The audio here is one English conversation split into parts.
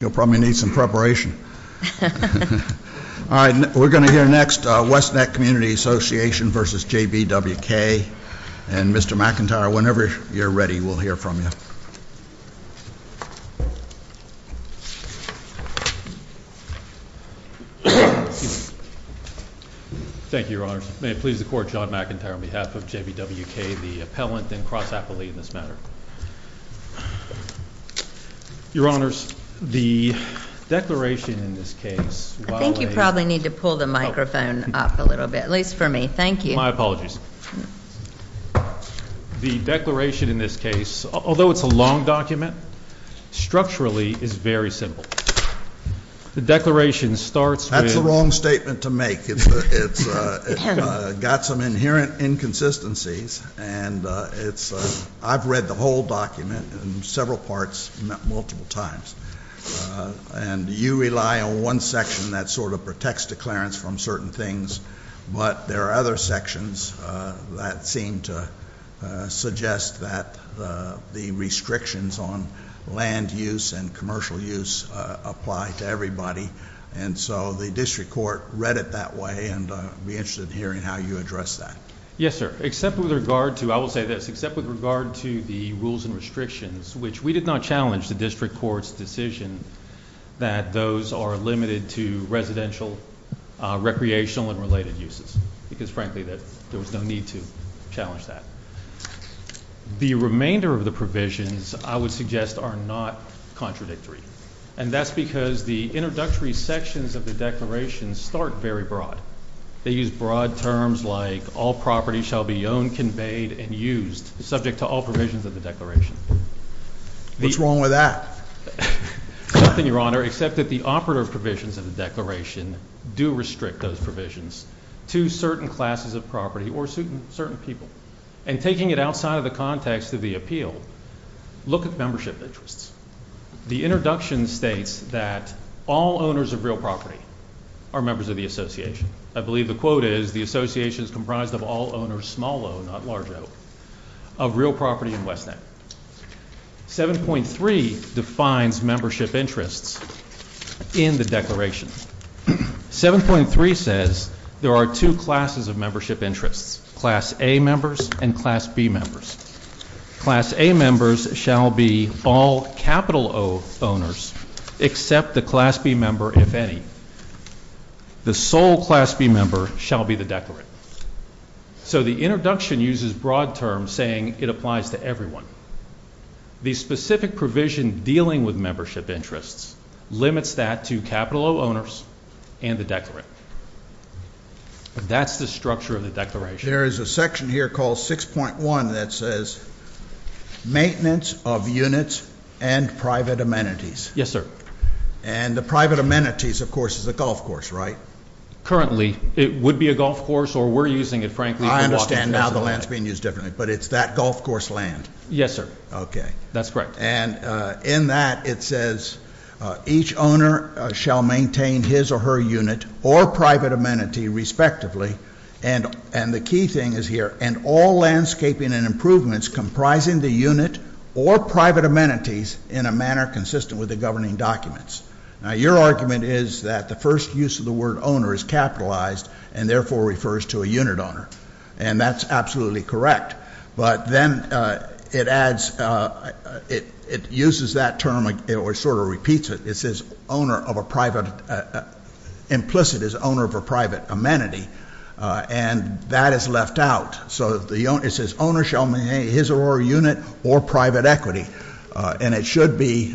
You'll probably need some preparation. All right, we're going to hear next West Neck Community Association v. JBWK. And Mr. McIntyre, whenever you're ready, we'll hear from you. Thank you, Your Honors. May it please the Court, John McIntyre, on behalf of JBWK, the appellant, then cross-appellee in this matter. Your Honors, the declaration in this case, while a I think you probably need to pull the microphone up a little bit, at least for me. Thank you. My apologies. The declaration in this case, although it's a long document, structurally is very simple. The declaration starts with It's a long statement to make. It's got some inherent inconsistencies, and it's I've read the whole document in several parts multiple times. And you rely on one section that sort of protects declarants from certain things, but there are other sections that seem to suggest that the restrictions on land use and commercial use apply to everybody. And so the District Court read it that way, and I'd be interested in hearing how you address that. Yes, sir. Except with regard to, I will say this, except with regard to the rules and restrictions, which we did not challenge the District Court's decision that those are limited to residential, recreational, and related uses. Because, frankly, there was no need to challenge that. The remainder of the provisions, I would suggest, are not contradictory. And that's because the introductory sections of the declaration start very broad. They use broad terms like all property shall be owned, conveyed, and used, subject to all provisions of the declaration. What's wrong with that? Nothing, Your Honor, except that the operative provisions of the declaration do restrict those provisions to certain classes of property or certain people. And taking it outside of the context of the appeal, look at membership interests. The introduction states that all owners of real property are members of the association. I believe the quote is, the association is comprised of all owners, small o, not large o, of real property in West End. 7.3 defines membership interests in the declaration. 7.3 says there are two classes of membership interests, Class A members and Class B members. Class A members shall be all capital O owners except the Class B member, if any. The sole Class B member shall be the declarant. So the introduction uses broad terms saying it applies to everyone. The specific provision dealing with membership interests limits that to capital O owners and the declarant. That's the structure of the declaration. There is a section here called 6.1 that says maintenance of units and private amenities. Yes, sir. And the private amenities, of course, is a golf course, right? Currently, it would be a golf course or we're using it, frankly. I understand now the land is being used differently, but it's that golf course land. Yes, sir. Okay. That's correct. And in that, it says each owner shall maintain his or her unit or private amenity, respectively. And the key thing is here, and all landscaping and improvements comprising the unit or private amenities in a manner consistent with the governing documents. Now, your argument is that the first use of the word owner is capitalized and therefore refers to a unit owner. And that's absolutely correct. But then it adds, it uses that term or sort of repeats it. It says owner of a private, implicit is owner of a private amenity. And that is left out. So it says owner shall maintain his or her unit or private equity. And it should be,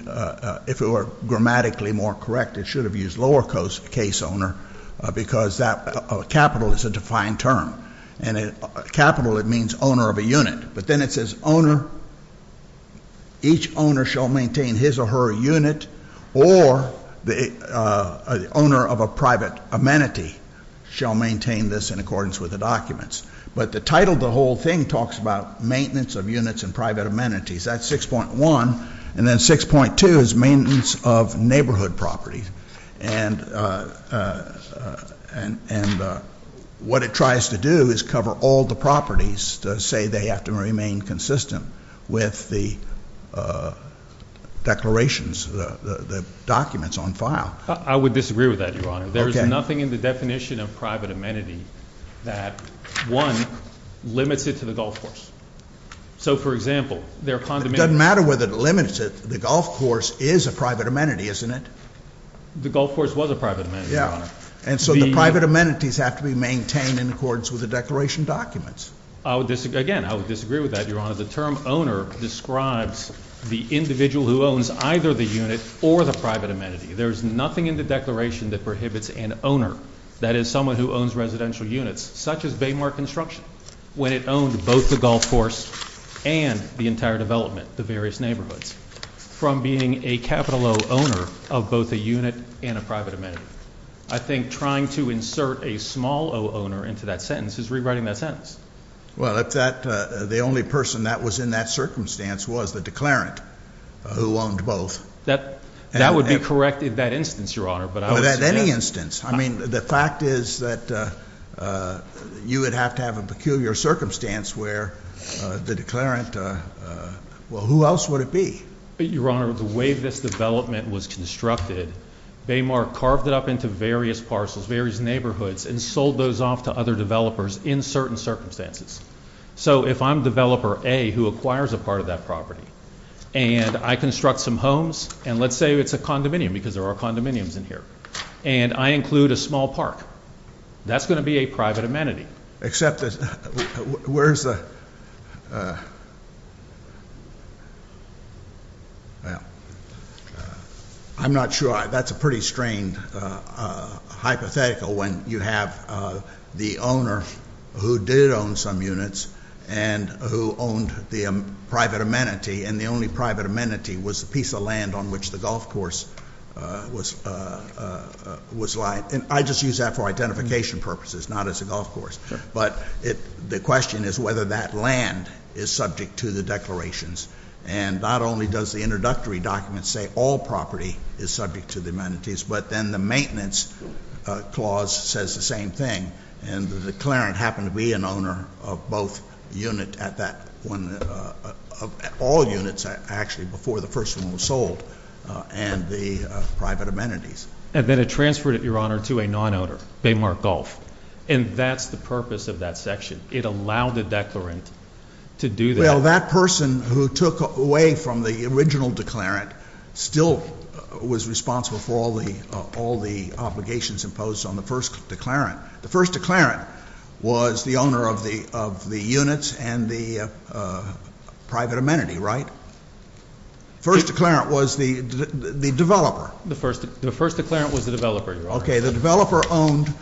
if it were grammatically more correct, it should have used lower case owner because capital is a defined term. And capital, it means owner of a unit. But then it says owner, each owner shall maintain his or her unit or the owner of a private amenity shall maintain this in accordance with the documents. But the title of the whole thing talks about maintenance of units and private amenities. That's 6.1. And then 6.2 is maintenance of neighborhood property. And what it tries to do is cover all the properties to say they have to remain consistent with the declarations, the documents on file. I would disagree with that, Your Honor. Okay. There is nothing in the definition of private amenity that, one, limits it to the golf course. So, for example, there are condominiums- It doesn't matter whether it limits it. The golf course is a private amenity, isn't it? The golf course was a private amenity, Your Honor. Yeah. And so the private amenities have to be maintained in accordance with the declaration documents. Again, I would disagree with that, Your Honor. The term owner describes the individual who owns either the unit or the private amenity. There is nothing in the declaration that prohibits an owner, that is someone who owns residential units, such as Baymark Construction, when it owned both the golf course and the entire development, the various neighborhoods, from being a capital O owner of both a unit and a private amenity. I think trying to insert a small o owner into that sentence is rewriting that sentence. Well, the only person that was in that circumstance was the declarant who owned both. That would be correct in that instance, Your Honor. But at any instance. I mean, the fact is that you would have to have a peculiar circumstance where the declarant- Well, who else would it be? Your Honor, the way this development was constructed, Baymark carved it up into various parcels, various neighborhoods, and sold those off to other developers in certain circumstances. So if I'm developer A who acquires a part of that property, and I construct some homes, and let's say it's a condominium because there are condominiums in here, and I include a small park, that's going to be a private amenity. Well, I'm not sure. That's a pretty strained hypothetical when you have the owner who did own some units and who owned the private amenity, and the only private amenity was the piece of land on which the golf course was lying. I just use that for identification purposes, not as a golf course. But the question is whether that land is subject to the declarations, and not only does the introductory document say all property is subject to the amenities, but then the maintenance clause says the same thing, and the declarant happened to be an owner of all units, actually, before the first one was sold, and the private amenities. And then it transferred it, Your Honor, to a non-owner, Baymark Golf, and that's the purpose of that section. It allowed the declarant to do that. Well, that person who took away from the original declarant still was responsible for all the obligations imposed on the first declarant. The first declarant was the owner of the units and the private amenity, right? The first declarant was the developer. The first declarant was the developer, Your Honor. Okay. The developer owned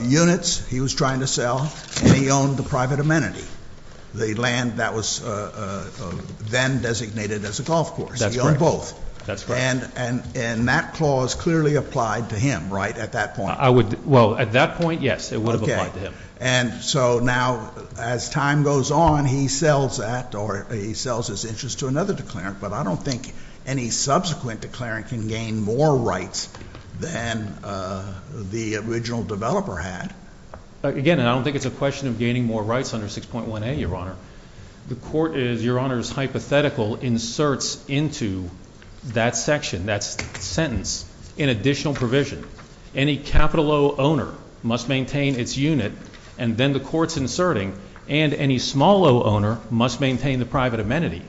units he was trying to sell, and he owned the private amenity, the land that was then designated as a golf course. That's correct. He owned both. That's correct. And that clause clearly applied to him, right, at that point? Well, at that point, yes, it would have applied to him. Okay. And so now, as time goes on, he sells that or he sells his interest to another declarant, but I don't think any subsequent declarant can gain more rights than the original developer had. Again, I don't think it's a question of gaining more rights under 6.1a, Your Honor. The court is, Your Honor, is hypothetical, inserts into that section, that sentence, an additional provision. Any capital O owner must maintain its unit, and then the court's inserting, and any small O owner must maintain the private amenity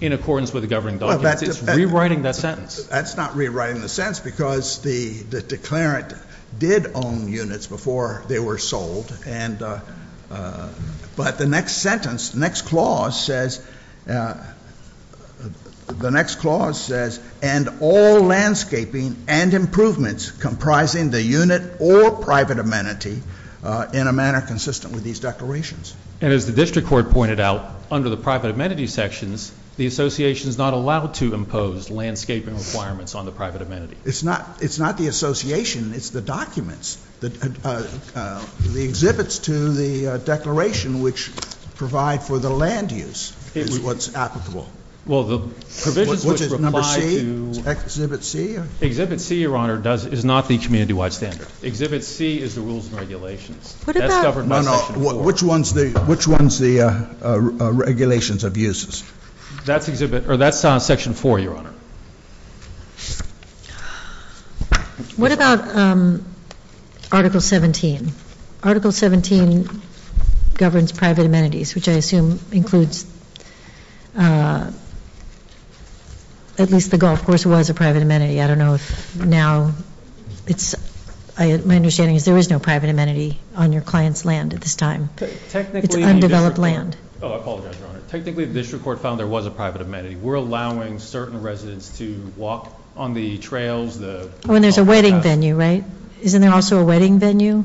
in accordance with the governing documents. It's rewriting that sentence. That's not rewriting the sentence because the declarant did own units before they were sold, but the next sentence, next clause says, the next clause says, and all landscaping and improvements comprising the unit or private amenity in a manner consistent with these declarations. And as the district court pointed out, under the private amenity sections, the association is not allowed to impose landscaping requirements on the private amenity. It's not the association. It's the documents. The exhibits to the declaration, which provide for the land use, is what's applicable. Well, the provisions which apply to... Which is number C? Exhibit C? Exhibit C, Your Honor, is not the community-wide standard. Exhibit C is the rules and regulations. That's governed by section 4. No, no. Which one's the regulations of uses? That's section 4, Your Honor. What about Article 17? Article 17 governs private amenities, which I assume includes at least the golf course was a private amenity. I don't know if now it's... My understanding is there is no private amenity on your client's land at this time. Technically... It's undeveloped land. Oh, I apologize, Your Honor. Technically, the district court found there was a private amenity. We're allowing certain residents to walk on the trails. Oh, and there's a wedding venue, right? Isn't there also a wedding venue?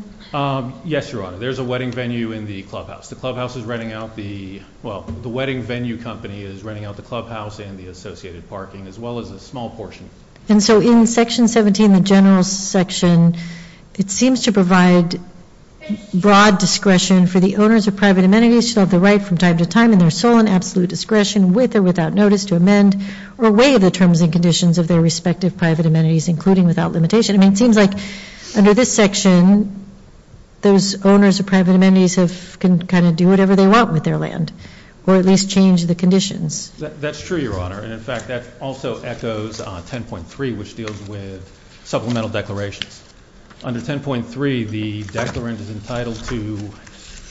Yes, Your Honor. There's a wedding venue in the clubhouse. The clubhouse is renting out the... Well, the wedding venue company is renting out the clubhouse and the associated parking, as well as a small portion. And so in section 17, the general section, it seems to provide broad discretion for the owners of private amenities to have the right from time to time in their sole and absolute discretion with or without notice to amend or weigh the terms and conditions of their respective private amenities, including without limitation. I mean, it seems like under this section, those owners of private amenities can kind of do whatever they want with their land or at least change the conditions. That's true, Your Honor. And, in fact, that also echoes 10.3, which deals with supplemental declarations. Under 10.3, the declarant is entitled to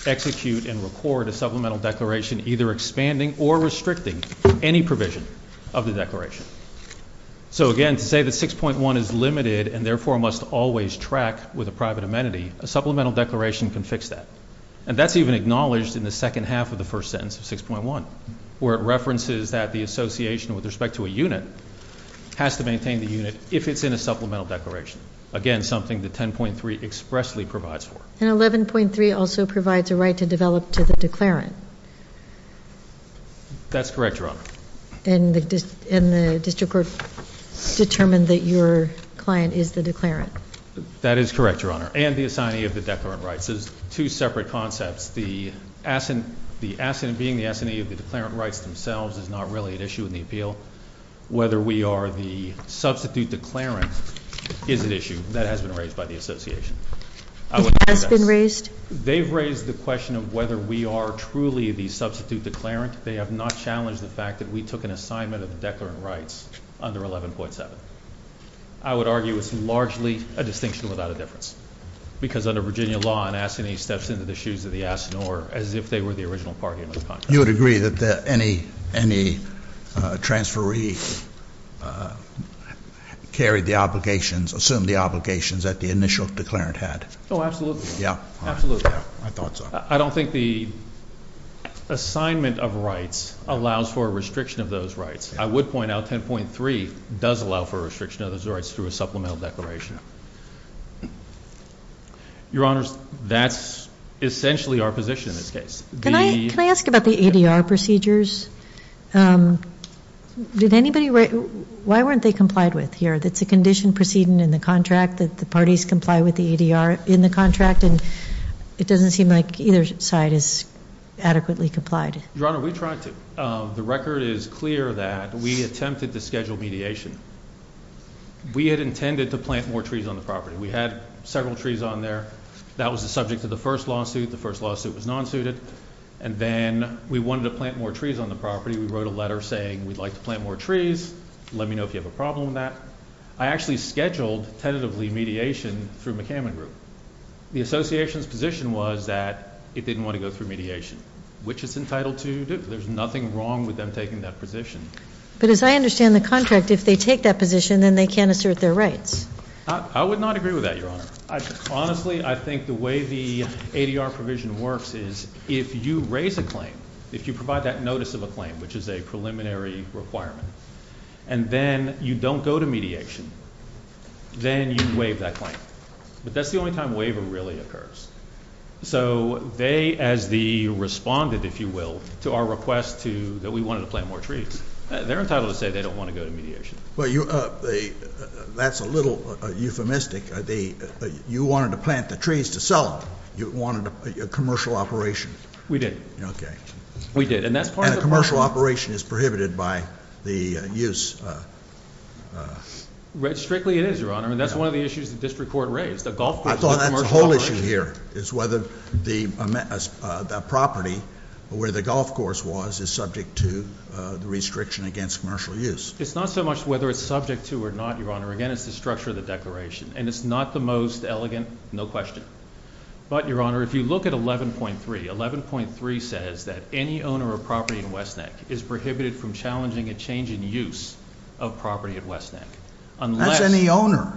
execute and record a supplemental declaration, either expanding or restricting any provision of the declaration. So, again, to say that 6.1 is limited and, therefore, must always track with a private amenity, a supplemental declaration can fix that. And that's even acknowledged in the second half of the first sentence of 6.1, where it references that the association with respect to a unit has to maintain the unit if it's in a supplemental declaration. Again, something that 10.3 expressly provides for. And 11.3 also provides a right to develop to the declarant. That's correct, Your Honor. And the district court determined that your client is the declarant. That is correct, Your Honor, and the assignee of the declarant rights. There's two separate concepts. The being the assignee of the declarant rights themselves is not really an issue in the appeal. Whether we are the substitute declarant is an issue. That has been raised by the association. It has been raised? They've raised the question of whether we are truly the substitute declarant. They have not challenged the fact that we took an assignment of the declarant rights under 11.7. I would argue it's largely a distinction without a difference, because under Virginia law, an assignee steps into the shoes of the ass, or as if they were the original party under the contract. You would agree that any transferee carried the obligations, assumed the obligations that the initial declarant had? Oh, absolutely. Absolutely. I thought so. I don't think the assignment of rights allows for a restriction of those rights. I would point out 10.3 does allow for a restriction of those rights through a supplemental declaration. Your Honors, that's essentially our position in this case. Can I ask about the ADR procedures? Why weren't they complied with here? It's a condition proceeding in the contract that the parties comply with the ADR in the contract, and it doesn't seem like either side is adequately complied. Your Honor, we tried to. The record is clear that we attempted to schedule mediation. We had intended to plant more trees on the property. We had several trees on there. That was the subject of the first lawsuit. The first lawsuit was non-suited, and then we wanted to plant more trees on the property. We wrote a letter saying we'd like to plant more trees. Let me know if you have a problem with that. I actually scheduled tentatively mediation through McCammon Group. The association's position was that it didn't want to go through mediation, which it's entitled to do. There's nothing wrong with them taking that position. But as I understand the contract, if they take that position, then they can't assert their rights. I would not agree with that, Your Honor. Honestly, I think the way the ADR provision works is if you raise a claim, if you provide that notice of a claim, which is a preliminary requirement, and then you don't go to mediation, then you waive that claim. But that's the only time waiver really occurs. So they, as the respondent, if you will, to our request that we wanted to plant more trees, they're entitled to say they don't want to go to mediation. Well, that's a little euphemistic. You wanted to plant the trees to sell them. You wanted a commercial operation. We did. Okay. We did. And that's part of the problem. And a commercial operation is prohibited by the use. Strictly it is, Your Honor. And that's one of the issues the district court raised. I thought that's the whole issue here is whether the property where the golf course was is subject to the restriction against commercial use. It's not so much whether it's subject to or not, Your Honor. Again, it's the structure of the declaration. And it's not the most elegant, no question. But, Your Honor, if you look at 11.3, 11.3 says that any owner of property in West Neck is prohibited from challenging a change in use of property at West Neck. That's any owner.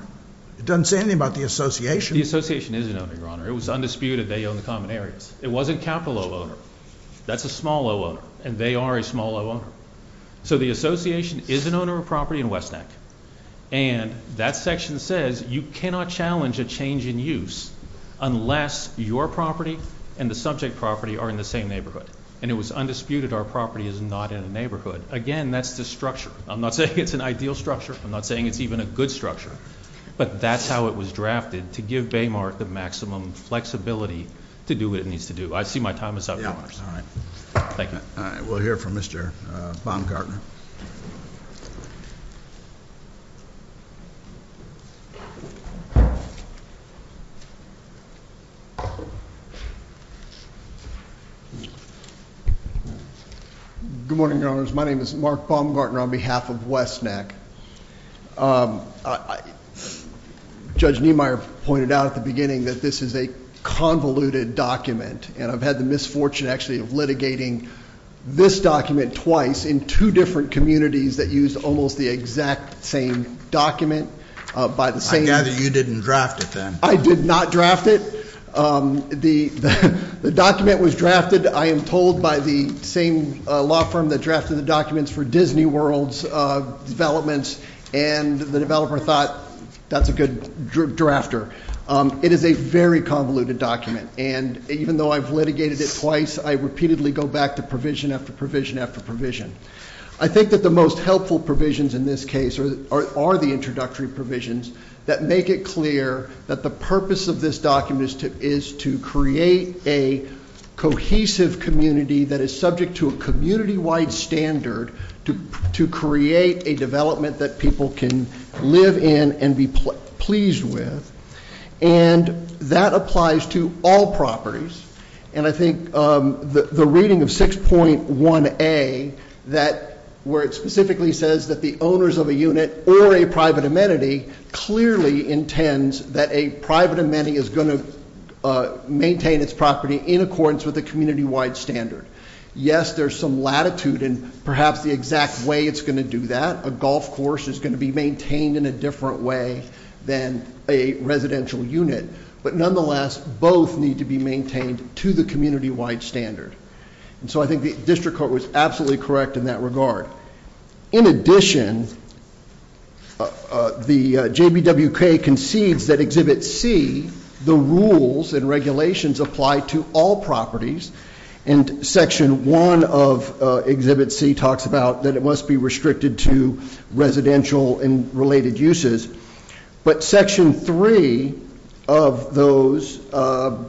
It doesn't say anything about the association. The association is an owner, Your Honor. It was undisputed they own the common areas. It wasn't capital O owner. That's a small O owner. And they are a small O owner. So the association is an owner of property in West Neck. And that section says you cannot challenge a change in use unless your property and the subject property are in the same neighborhood. And it was undisputed our property is not in a neighborhood. Again, that's the structure. I'm not saying it's an ideal structure. I'm not saying it's even a good structure. But that's how it was drafted, to give Baymark the maximum flexibility to do what it needs to do. I see my time is up, Your Honors. Thank you. We'll hear from Mr. Baumgartner. Good morning, Your Honors. My name is Mark Baumgartner on behalf of West Neck. Judge Niemeyer pointed out at the beginning that this is a convoluted document. And I've had the misfortune actually of litigating this document twice in two different communities that used almost the exact same document. I gather you didn't draft it then. I did not draft it. The document was drafted, I am told, by the same law firm that drafted the documents for Disney World's developments. And the developer thought that's a good drafter. It is a very convoluted document. And even though I've litigated it twice, I repeatedly go back to provision after provision after provision. I think that the most helpful provisions in this case are the introductory provisions that make it clear that the purpose of this document is to create a cohesive community that is subject to a community-wide standard to create a development that people can live in and be pleased with. And that applies to all properties. And I think the reading of 6.1a, where it specifically says that the owners of a unit or a private amenity clearly intends that a private amenity is going to maintain its property in accordance with a community-wide standard. Yes, there's some latitude in perhaps the exact way it's going to do that. A golf course is going to be maintained in a different way than a residential unit. But nonetheless, both need to be maintained to the community-wide standard. And so I think the district court was absolutely correct in that regard. In addition, the JBWK concedes that Exhibit C, the rules and regulations apply to all properties. And Section 1 of Exhibit C talks about that it must be restricted to residential and related uses. But Section 3 of those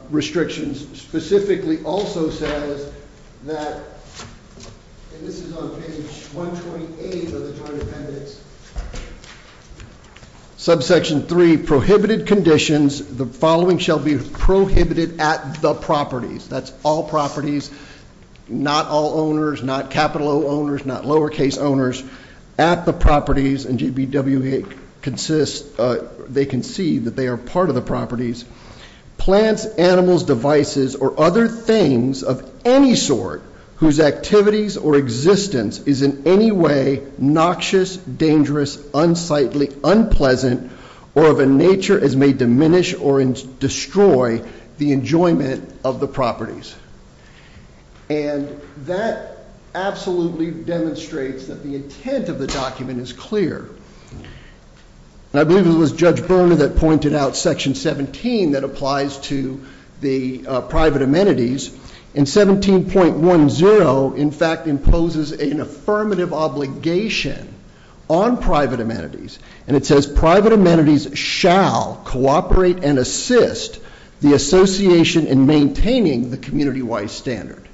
restrictions specifically also says that, and this is on page 128 of the Joint Appendix. Subsection 3, prohibited conditions, the following shall be prohibited at the properties. That's all properties, not all owners, not capital O owners, not lowercase owners. At the properties, and JBWK consists, they concede that they are part of the properties. Plants, animals, devices, or other things of any sort whose activities or existence is in any way noxious, dangerous, unsightly, unpleasant, or of a nature as may diminish or destroy the enjoyment of the properties. And that absolutely demonstrates that the intent of the document is clear. And I believe it was Judge Berner that pointed out Section 17 that applies to the private amenities. And 17.10, in fact, imposes an affirmative obligation on private amenities. And it says private amenities shall cooperate and assist the association in maintaining the community-wide standard.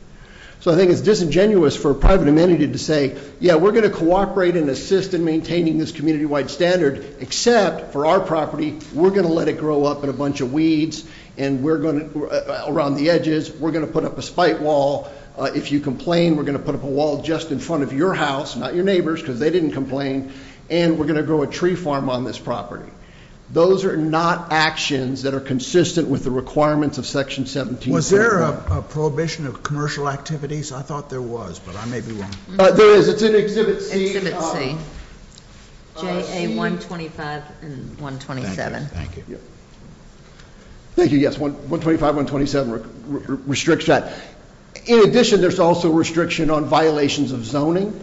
So I think it's disingenuous for private amenity to say, yeah, we're going to cooperate and assist in maintaining this community-wide standard. Except for our property, we're going to let it grow up in a bunch of weeds around the edges. We're going to put up a spite wall. If you complain, we're going to put up a wall just in front of your house, not your neighbors, because they didn't complain. And we're going to grow a tree farm on this property. Those are not actions that are consistent with the requirements of Section 17.10. Was there a prohibition of commercial activities? I thought there was, but I may be wrong. There is. It's in Exhibit C. Exhibit C. JA 125 and 127. Thank you. Thank you, yes. 125, 127 restricts that. In addition, there's also restriction on violations of zoning.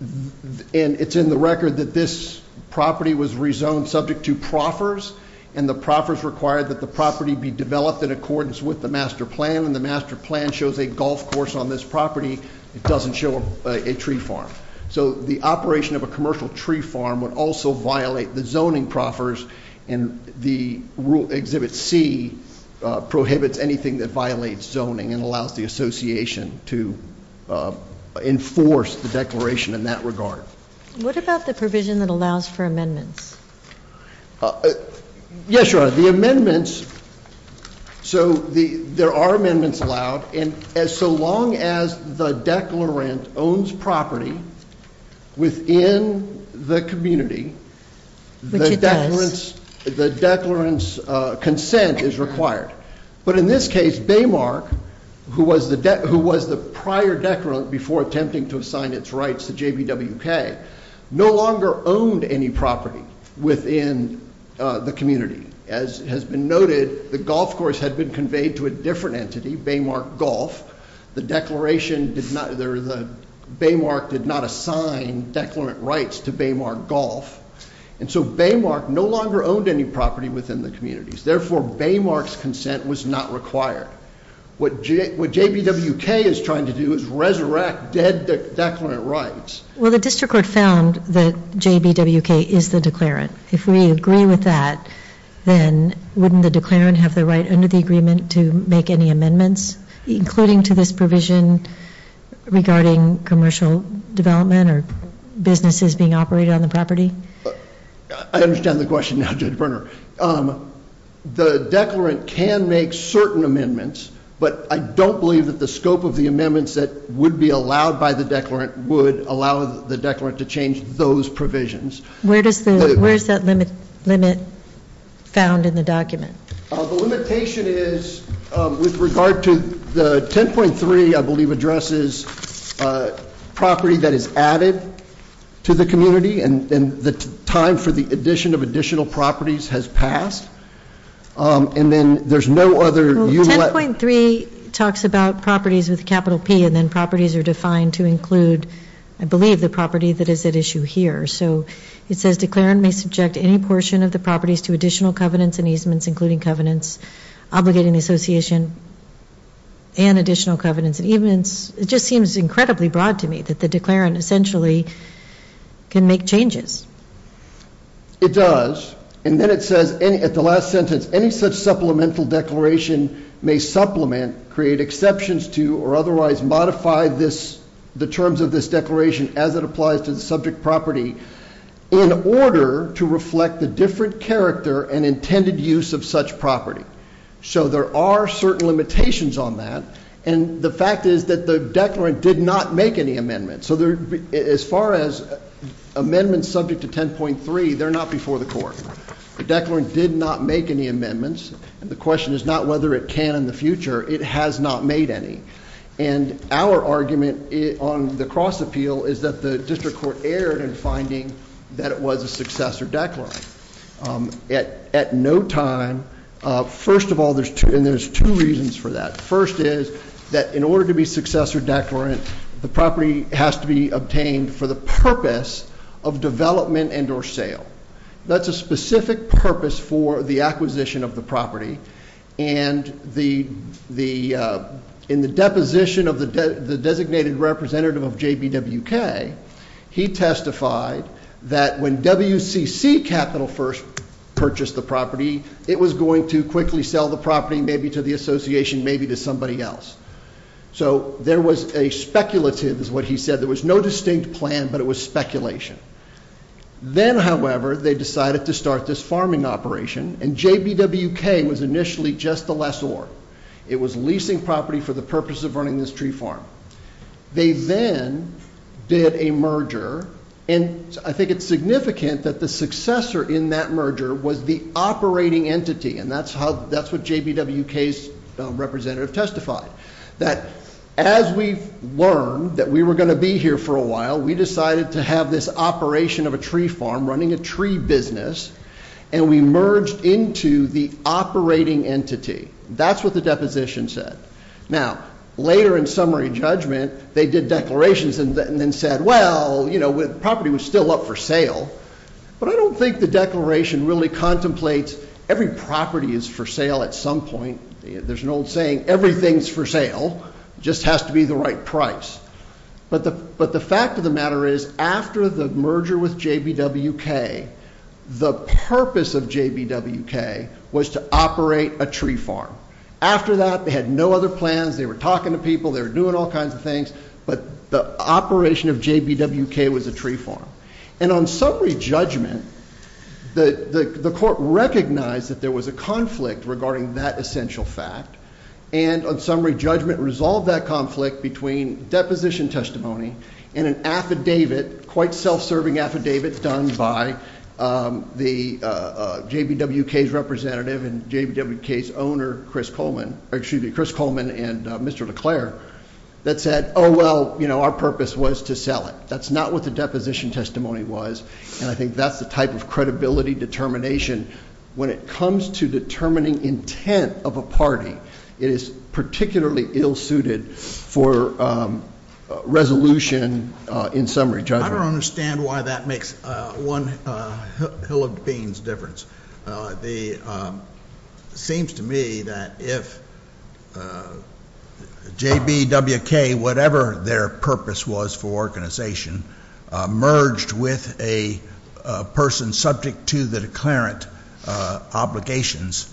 And it's in the record that this property was rezoned subject to proffers. And the proffers required that the property be developed in accordance with the master plan. And the master plan shows a golf course on this property. It doesn't show a tree farm. So the operation of a commercial tree farm would also violate the zoning proffers. And the Exhibit C prohibits anything that violates zoning and allows the association to enforce the declaration in that regard. What about the provision that allows for amendments? Yes, Your Honor. The amendments. So there are amendments allowed. And so long as the declarant owns property within the community, the declarant's consent is required. But in this case, Baymark, who was the prior declarant before attempting to assign its rights to JBWK, no longer owned any property within the community. As has been noted, the golf course had been conveyed to a different entity, Baymark Golf. The Baymark did not assign declarant rights to Baymark Golf. And so Baymark no longer owned any property within the community. Therefore, Baymark's consent was not required. What JBWK is trying to do is resurrect dead declarant rights. Well, the district court found that JBWK is the declarant. If we agree with that, then wouldn't the declarant have the right under the agreement to make any amendments, including to this provision regarding commercial development or businesses being operated on the property? I understand the question now, Judge Berner. The declarant can make certain amendments, but I don't believe that the scope of the amendments that would be allowed by the declarant would allow the declarant to change those provisions. Where is that limit found in the document? The limitation is with regard to the 10.3, I believe, addresses property that is added to the community and the time for the addition of additional properties has passed. And then there's no other unit. 10.3 talks about properties with a capital P, and then properties are defined to include, I believe, the property that is at issue here. So it says declarant may subject any portion of the properties to additional covenants and easements, including covenants obligating the association and additional covenants and easements. It just seems incredibly broad to me that the declarant essentially can make changes. It does. And then it says at the last sentence, any such supplemental declaration may supplement, create exceptions to, or otherwise modify the terms of this declaration as it applies to the subject property in order to reflect the different character and intended use of such property. So there are certain limitations on that. And the fact is that the declarant did not make any amendments. So as far as amendments subject to 10.3, they're not before the court. The declarant did not make any amendments. The question is not whether it can in the future. It has not made any. And our argument on the cross appeal is that the district court erred in finding that it was a successor declarant. At no time, first of all, and there's two reasons for that. First is that in order to be successor declarant, the property has to be obtained for the purpose of development and or sale. That's a specific purpose for the acquisition of the property. And in the deposition of the designated representative of JBWK, he testified that when WCC Capital first purchased the property, it was going to quickly sell the property maybe to the association, maybe to somebody else. So there was a speculative, is what he said. There was no distinct plan, but it was speculation. Then, however, they decided to start this farming operation, and JBWK was initially just a lessor. It was leasing property for the purpose of running this tree farm. They then did a merger, and I think it's significant that the successor in that merger was the operating entity, and that's what JBWK's representative testified. That as we learned that we were going to be here for a while, we decided to have this operation of a tree farm running a tree business, and we merged into the operating entity. That's what the deposition said. Now, later in summary judgment, they did declarations and then said, well, you know, the property was still up for sale, but I don't think the declaration really contemplates every property is for sale at some point. There's an old saying, everything's for sale. It just has to be the right price. But the fact of the matter is, after the merger with JBWK, the purpose of JBWK was to operate a tree farm. After that, they had no other plans. They were talking to people. They were doing all kinds of things, but the operation of JBWK was a tree farm. And on summary judgment, the court recognized that there was a conflict regarding that essential fact, and on summary judgment resolved that conflict between deposition testimony and an affidavit, quite self-serving affidavit done by the JBWK's representative and JBWK's owner, Chris Coleman, and Mr. LeClaire, that said, oh, well, you know, our purpose was to sell it. That's not what the deposition testimony was, and I think that's the type of credibility determination. When it comes to determining intent of a party, it is particularly ill-suited for resolution in summary judgment. I don't understand why that makes one hill of beans difference. It seems to me that if JBWK, whatever their purpose was for organization, merged with a person subject to the declarant obligations,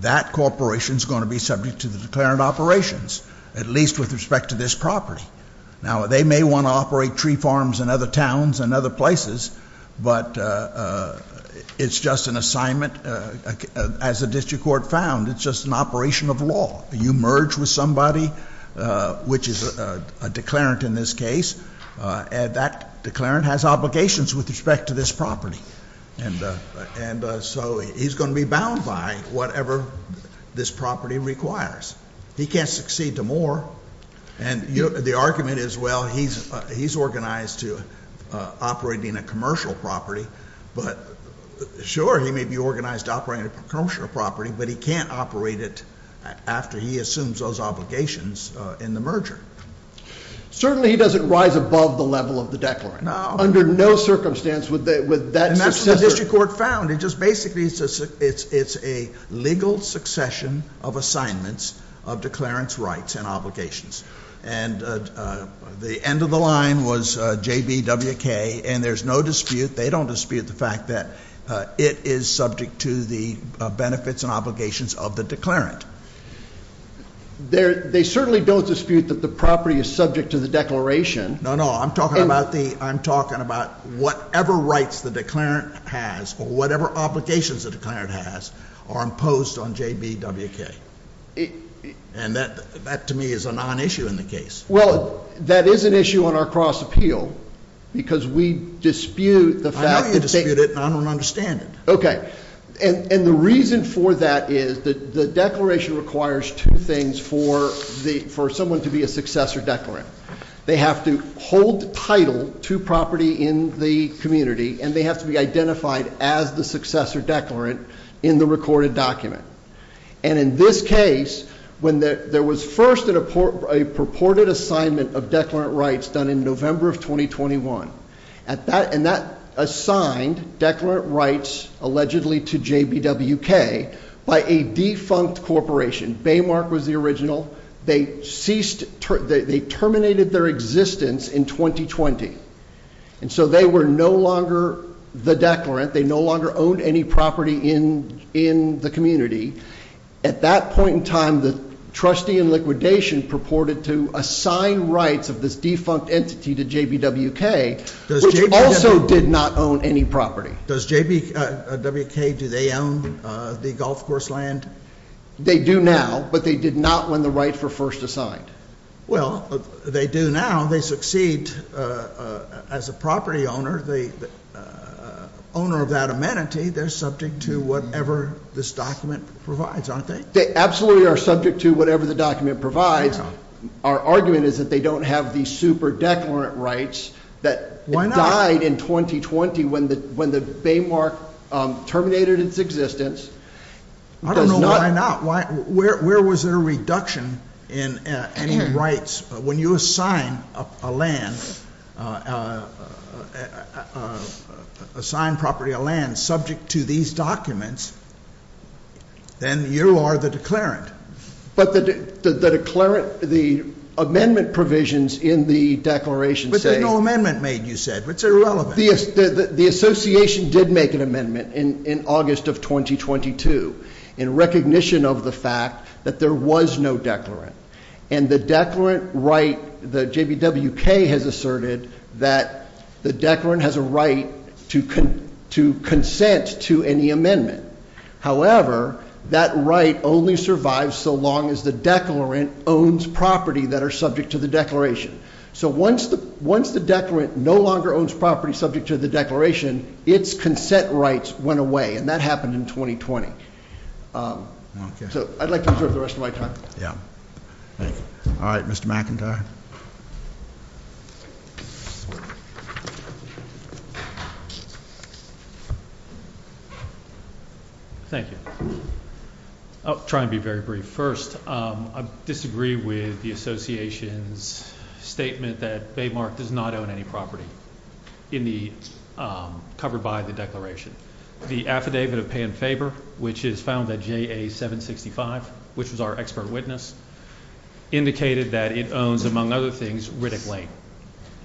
that corporation is going to be subject to the declarant operations, at least with respect to this property. Now, they may want to operate tree farms in other towns and other places, but it's just an assignment as a district court found. It's just an operation of law. You merge with somebody, which is a declarant in this case, and that declarant has obligations with respect to this property. And so he's going to be bound by whatever this property requires. He can't succeed to more. And the argument is, well, he's organized to operate in a commercial property, but sure, he may be organized to operate a commercial property, but he can't operate it after he assumes those obligations in the merger. Certainly he doesn't rise above the level of the declarant. No. Under no circumstance would that successor— And that's what the district court found. It's a legal succession of assignments of declarant's rights and obligations. And the end of the line was JBWK, and there's no dispute. They don't dispute the fact that it is subject to the benefits and obligations of the declarant. They certainly don't dispute that the property is subject to the declaration. No, no. I'm talking about whatever rights the declarant has or whatever obligations the declarant has are imposed on JBWK. And that, to me, is a non-issue in the case. Well, that is an issue on our cross-appeal because we dispute the fact that— I know you dispute it, and I don't understand it. Okay. And the reason for that is the declaration requires two things for someone to be a successor declarant. They have to hold title to property in the community, and they have to be identified as the successor declarant in the recorded document. And in this case, when there was first a purported assignment of declarant rights done in November of 2021, and that assigned declarant rights allegedly to JBWK by a defunct corporation. Baymark was the original. They ceased—they terminated their existence in 2020. And so they were no longer the declarant. They no longer owned any property in the community. At that point in time, the trustee in liquidation purported to assign rights of this defunct entity to JBWK, which also did not own any property. Does JBWK—do they own the golf course land? They do now, but they did not win the right for first assigned. Well, they do now. They succeed as a property owner, the owner of that amenity. They're subject to whatever this document provides, aren't they? They absolutely are subject to whatever the document provides. Our argument is that they don't have these super declarant rights that died in 2020 when the Baymark terminated its existence. I don't know why not. Where was there a reduction in any rights? When you assign a land—assign property, a land subject to these documents, then you are the declarant. But the declarant—the amendment provisions in the declaration say— But there's no amendment made, you said. It's irrelevant. The association did make an amendment in August of 2022 in recognition of the fact that there was no declarant. And the declarant right—the JBWK has asserted that the declarant has a right to consent to any amendment. However, that right only survives so long as the declarant owns property that are subject to the declaration. So once the declarant no longer owns property subject to the declaration, its consent rights went away, and that happened in 2020. So I'd like to reserve the rest of my time. Thank you. All right. Mr. McIntyre. Thank you. I'll try and be very brief. First, I disagree with the association's statement that Baymark does not own any property in the—covered by the declaration. The Affidavit of Pay and Favor, which is found at JA-765, which was our expert witness, indicated that it owns, among other things, Riddick Lane.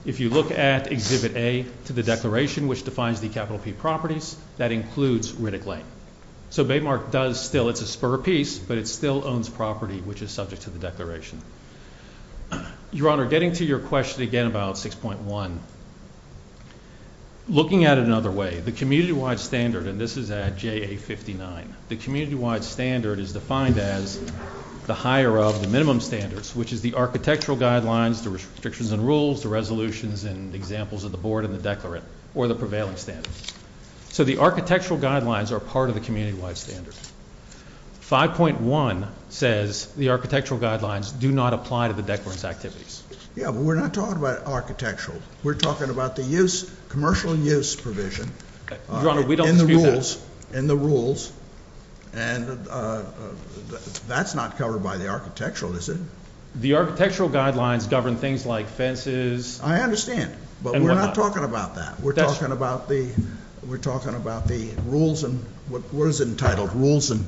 If you look at Exhibit A to the declaration, which defines the capital P properties, that includes Riddick Lane. So Baymark does still—it's a spur of peace, but it still owns property which is subject to the declaration. Your Honor, getting to your question again about 6.1, looking at it another way, the community-wide standard, and this is at JA-59, the community-wide standard is defined as the higher of the minimum standards, which is the architectural guidelines, the restrictions and rules, the resolutions, and examples of the board and the declarant, or the prevailing standards. So the architectural guidelines are part of the community-wide standard. 5.1 says the architectural guidelines do not apply to the declarant's activities. Yeah, but we're not talking about architectural. We're talking about the use—commercial use provision— Your Honor, we don't dispute that. —in the rules, and that's not covered by the architectural, is it? The architectural guidelines govern things like fences— I understand. —and whatnot. We're not talking about that. We're talking about the rules and—what is it entitled? Rules and—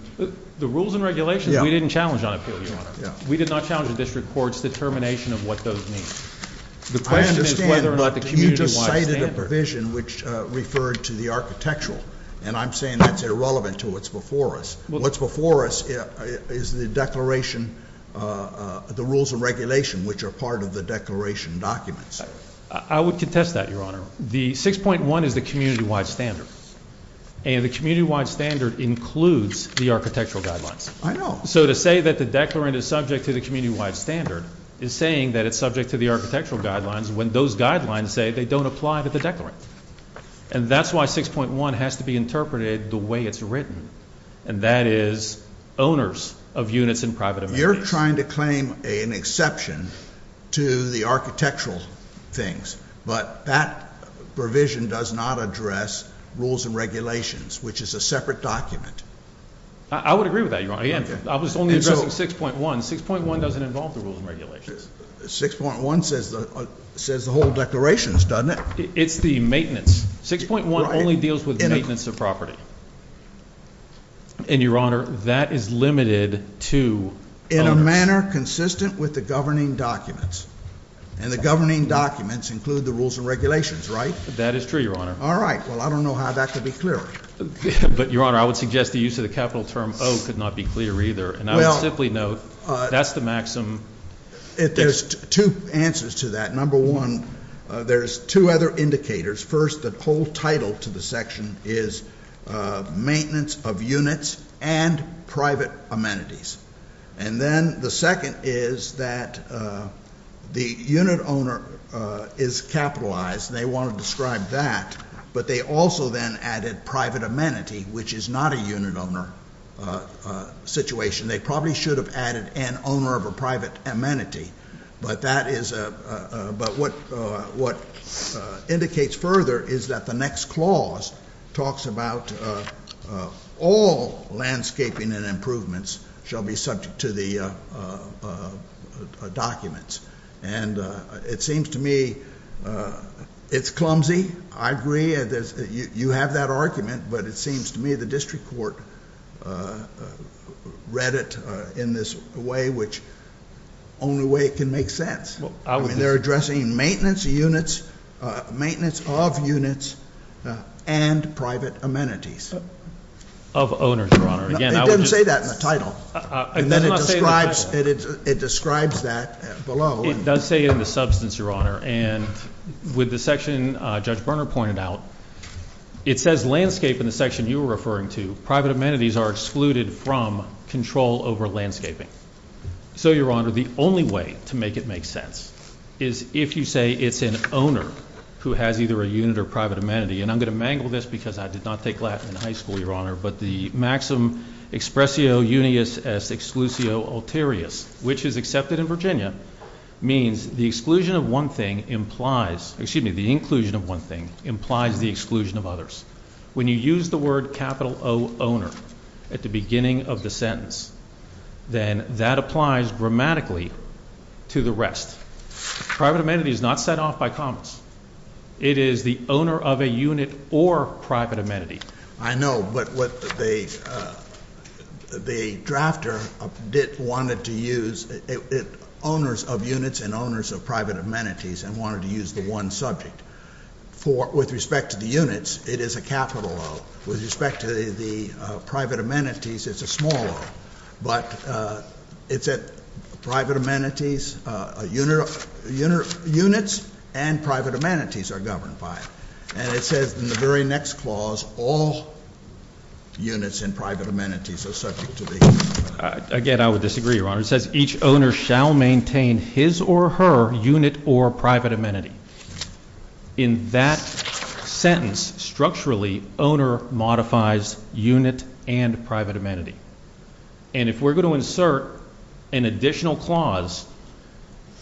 The rules and regulations? Yeah. We didn't challenge on appeal, Your Honor. Yeah. We did not challenge the district court's determination of what those mean. The question is whether or not the community-wide standard— I understand, but you just cited a provision which referred to the architectural, and I'm saying that's irrelevant to what's before us. What's before us is the declaration—the rules and regulation, which are part of the declaration documents. I would contest that, Your Honor. The 6.1 is the community-wide standard, and the community-wide standard includes the architectural guidelines. I know. So to say that the declarant is subject to the community-wide standard is saying that it's subject to the architectural guidelines when those guidelines say they don't apply to the declarant. And that's why 6.1 has to be interpreted the way it's written, and that is owners of units in private amenities. Now, you're trying to claim an exception to the architectural things, but that provision does not address rules and regulations, which is a separate document. I would agree with that, Your Honor. I was only addressing 6.1. 6.1 doesn't involve the rules and regulations. 6.1 says the whole declarations, doesn't it? It's the maintenance. 6.1 only deals with maintenance of property. And, Your Honor, that is limited to owners. In a manner consistent with the governing documents, and the governing documents include the rules and regulations, right? That is true, Your Honor. All right. Well, I don't know how that could be clear. But, Your Honor, I would suggest the use of the capital term O could not be clear either, and I would simply note that's the maximum. There's two answers to that. Number one, there's two other indicators. First, the whole title to the section is maintenance of units and private amenities. And then the second is that the unit owner is capitalized, and they want to describe that. But they also then added private amenity, which is not a unit owner situation. They probably should have added an owner of a private amenity. But what indicates further is that the next clause talks about all landscaping and improvements shall be subject to the documents. And it seems to me it's clumsy. I agree. You have that argument, but it seems to me the district court read it in this way, which only way it can make sense. I mean, they're addressing maintenance of units and private amenities. Of owners, Your Honor. Again, I would just- It doesn't say that in the title. It does not say in the title. And then it describes that below. It does say in the substance, Your Honor. And with the section Judge Berner pointed out, it says landscape in the section you were referring to. Private amenities are excluded from control over landscaping. So, Your Honor, the only way to make it make sense is if you say it's an owner who has either a unit or private amenity. And I'm going to mangle this because I did not take Latin in high school, Your Honor. But the maxim expressio unius exclusio ulterius, which is accepted in Virginia, means the exclusion of one thing implies, excuse me, the inclusion of one thing implies the exclusion of others. When you use the word capital O owner at the beginning of the sentence, then that applies grammatically to the rest. Private amenity is not set off by comments. It is the owner of a unit or private amenity. I know, but what the drafter wanted to use, owners of units and owners of private amenities and wanted to use the one subject. With respect to the units, it is a capital O. With respect to the private amenities, it's a small O. But it's private amenities, units and private amenities are governed by it. And it says in the very next clause, all units and private amenities are subject to the. Again, I would disagree, Your Honor. It says each owner shall maintain his or her unit or private amenity. In that sentence, structurally, owner modifies unit and private amenity. And if we're going to insert an additional clause,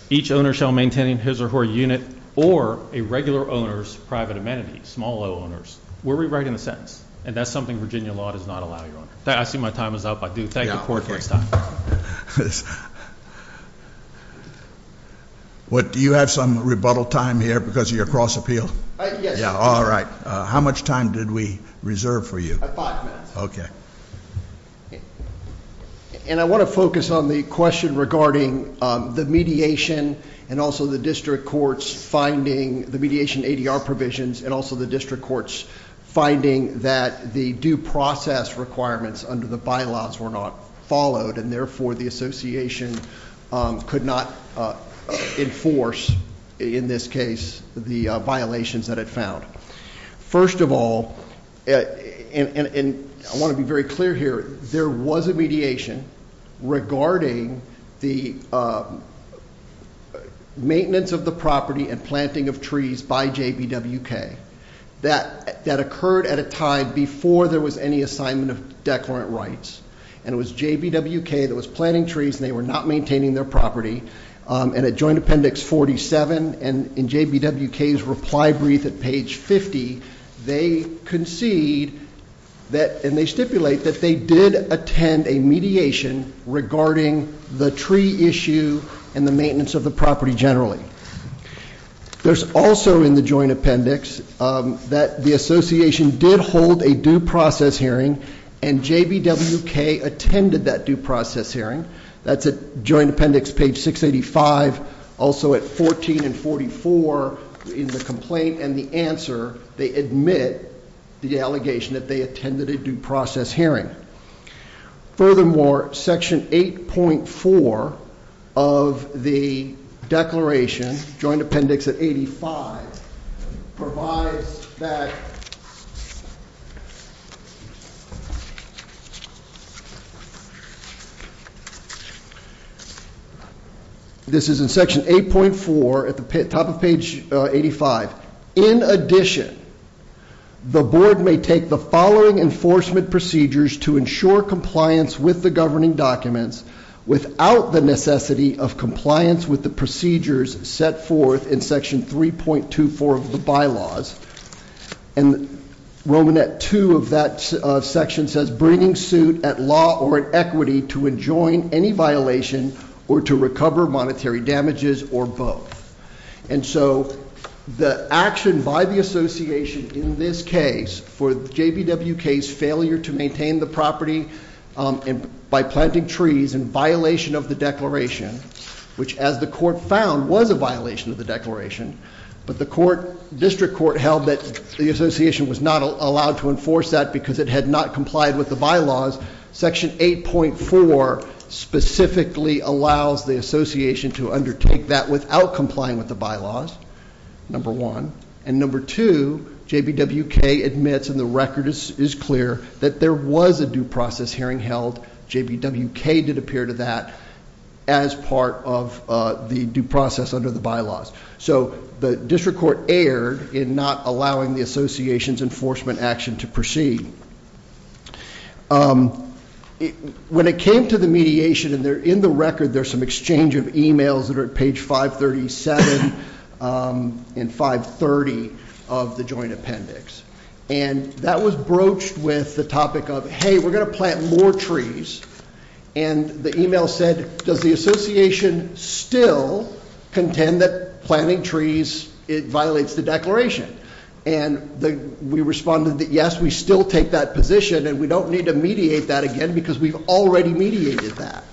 each owner shall maintain his or her unit or a regular owner's private amenities, small O owners. We're rewriting the sentence. And that's something Virginia law does not allow, Your Honor. I see my time is up. I do thank the court for its time. Do you have some rebuttal time here because of your cross appeal? Yes. All right. How much time did we reserve for you? Five minutes. Okay. And I want to focus on the question regarding the mediation and also the district court's finding, the mediation ADR provisions and also the district court's finding that the due process requirements under the bylaws were not followed. And therefore, the association could not enforce, in this case, the violations that it found. First of all, and I want to be very clear here, there was a mediation regarding the maintenance of the property and planting of trees by JBWK. That occurred at a time before there was any assignment of declarant rights. And it was JBWK that was planting trees and they were not maintaining their property. And at joint appendix 47 and in JBWK's reply brief at page 50, they concede that and they stipulate that they did attend a mediation regarding the tree issue and the maintenance of the property generally. There's also in the joint appendix that the association did hold a due process hearing and JBWK attended that due process hearing. That's at joint appendix page 685. Also at 14 and 44 in the complaint and the answer, they admit the allegation that they attended a due process hearing. Furthermore, section 8.4 of the declaration, joint appendix at 85, provides that This is in section 8.4 at the top of page 85. In addition, the board may take the following enforcement procedures to ensure compliance with the governing documents without the necessity of compliance with the procedures set forth in section 3.24 of the bylaws. And Romanette 2 of that section says bringing suit at law or equity to enjoin any violation or to recover monetary damages or both. And so the action by the association in this case for JBWK's failure to maintain the property by planting trees in violation of the declaration. Which as the court found was a violation of the declaration. But the district court held that the association was not allowed to enforce that because it had not complied with the bylaws. Section 8.4 specifically allows the association to undertake that without complying with the bylaws. Number one. And number two, JBWK admits in the record is clear that there was a due process hearing held. JBWK did appear to that as part of the due process under the bylaws. So the district court erred in not allowing the association's enforcement action to proceed. When it came to the mediation, and they're in the record, there's some exchange of emails that are at page 537 and 530 of the joint appendix. And that was broached with the topic of, hey, we're going to plant more trees. And the email said, does the association still contend that planting trees violates the declaration? And we responded that, yes, we still take that position and we don't need to mediate that again because we've already mediated that.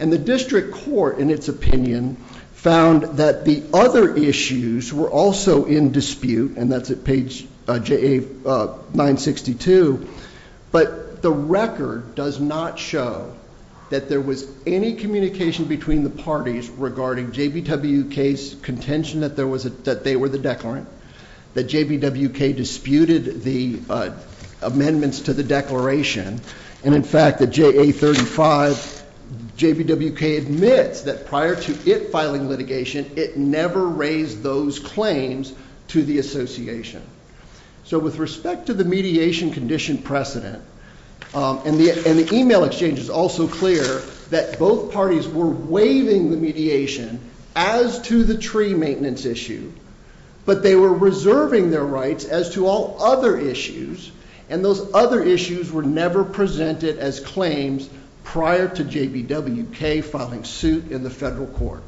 And the district court, in its opinion, found that the other issues were also in dispute. And that's at page 962, but the record does not show that there was any communication between the parties regarding JBWK's contention that they were the declarant, that JBWK disputed the amendments to the declaration. And in fact, the JA35, JBWK admits that prior to it filing litigation, it never raised those claims to the association. So with respect to the mediation condition precedent, and the email exchange is also clear that both parties were waiving the mediation as to the tree maintenance issue. But they were reserving their rights as to all other issues, and those other issues were never presented as claims prior to JBWK filing suit in the federal court.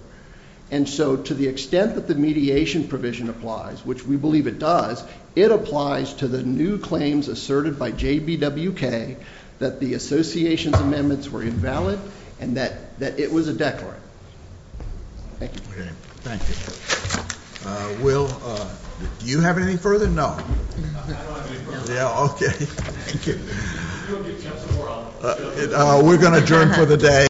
And so to the extent that the mediation provision applies, which we believe it does, it applies to the new claims asserted by JBWK that the association's amendments were invalid, and that it was a declarant. Thank you. Thank you. Will, do you have anything further? I don't have any further. Yeah, okay. Thank you. You'll get just more on- We're going to adjourn for the day.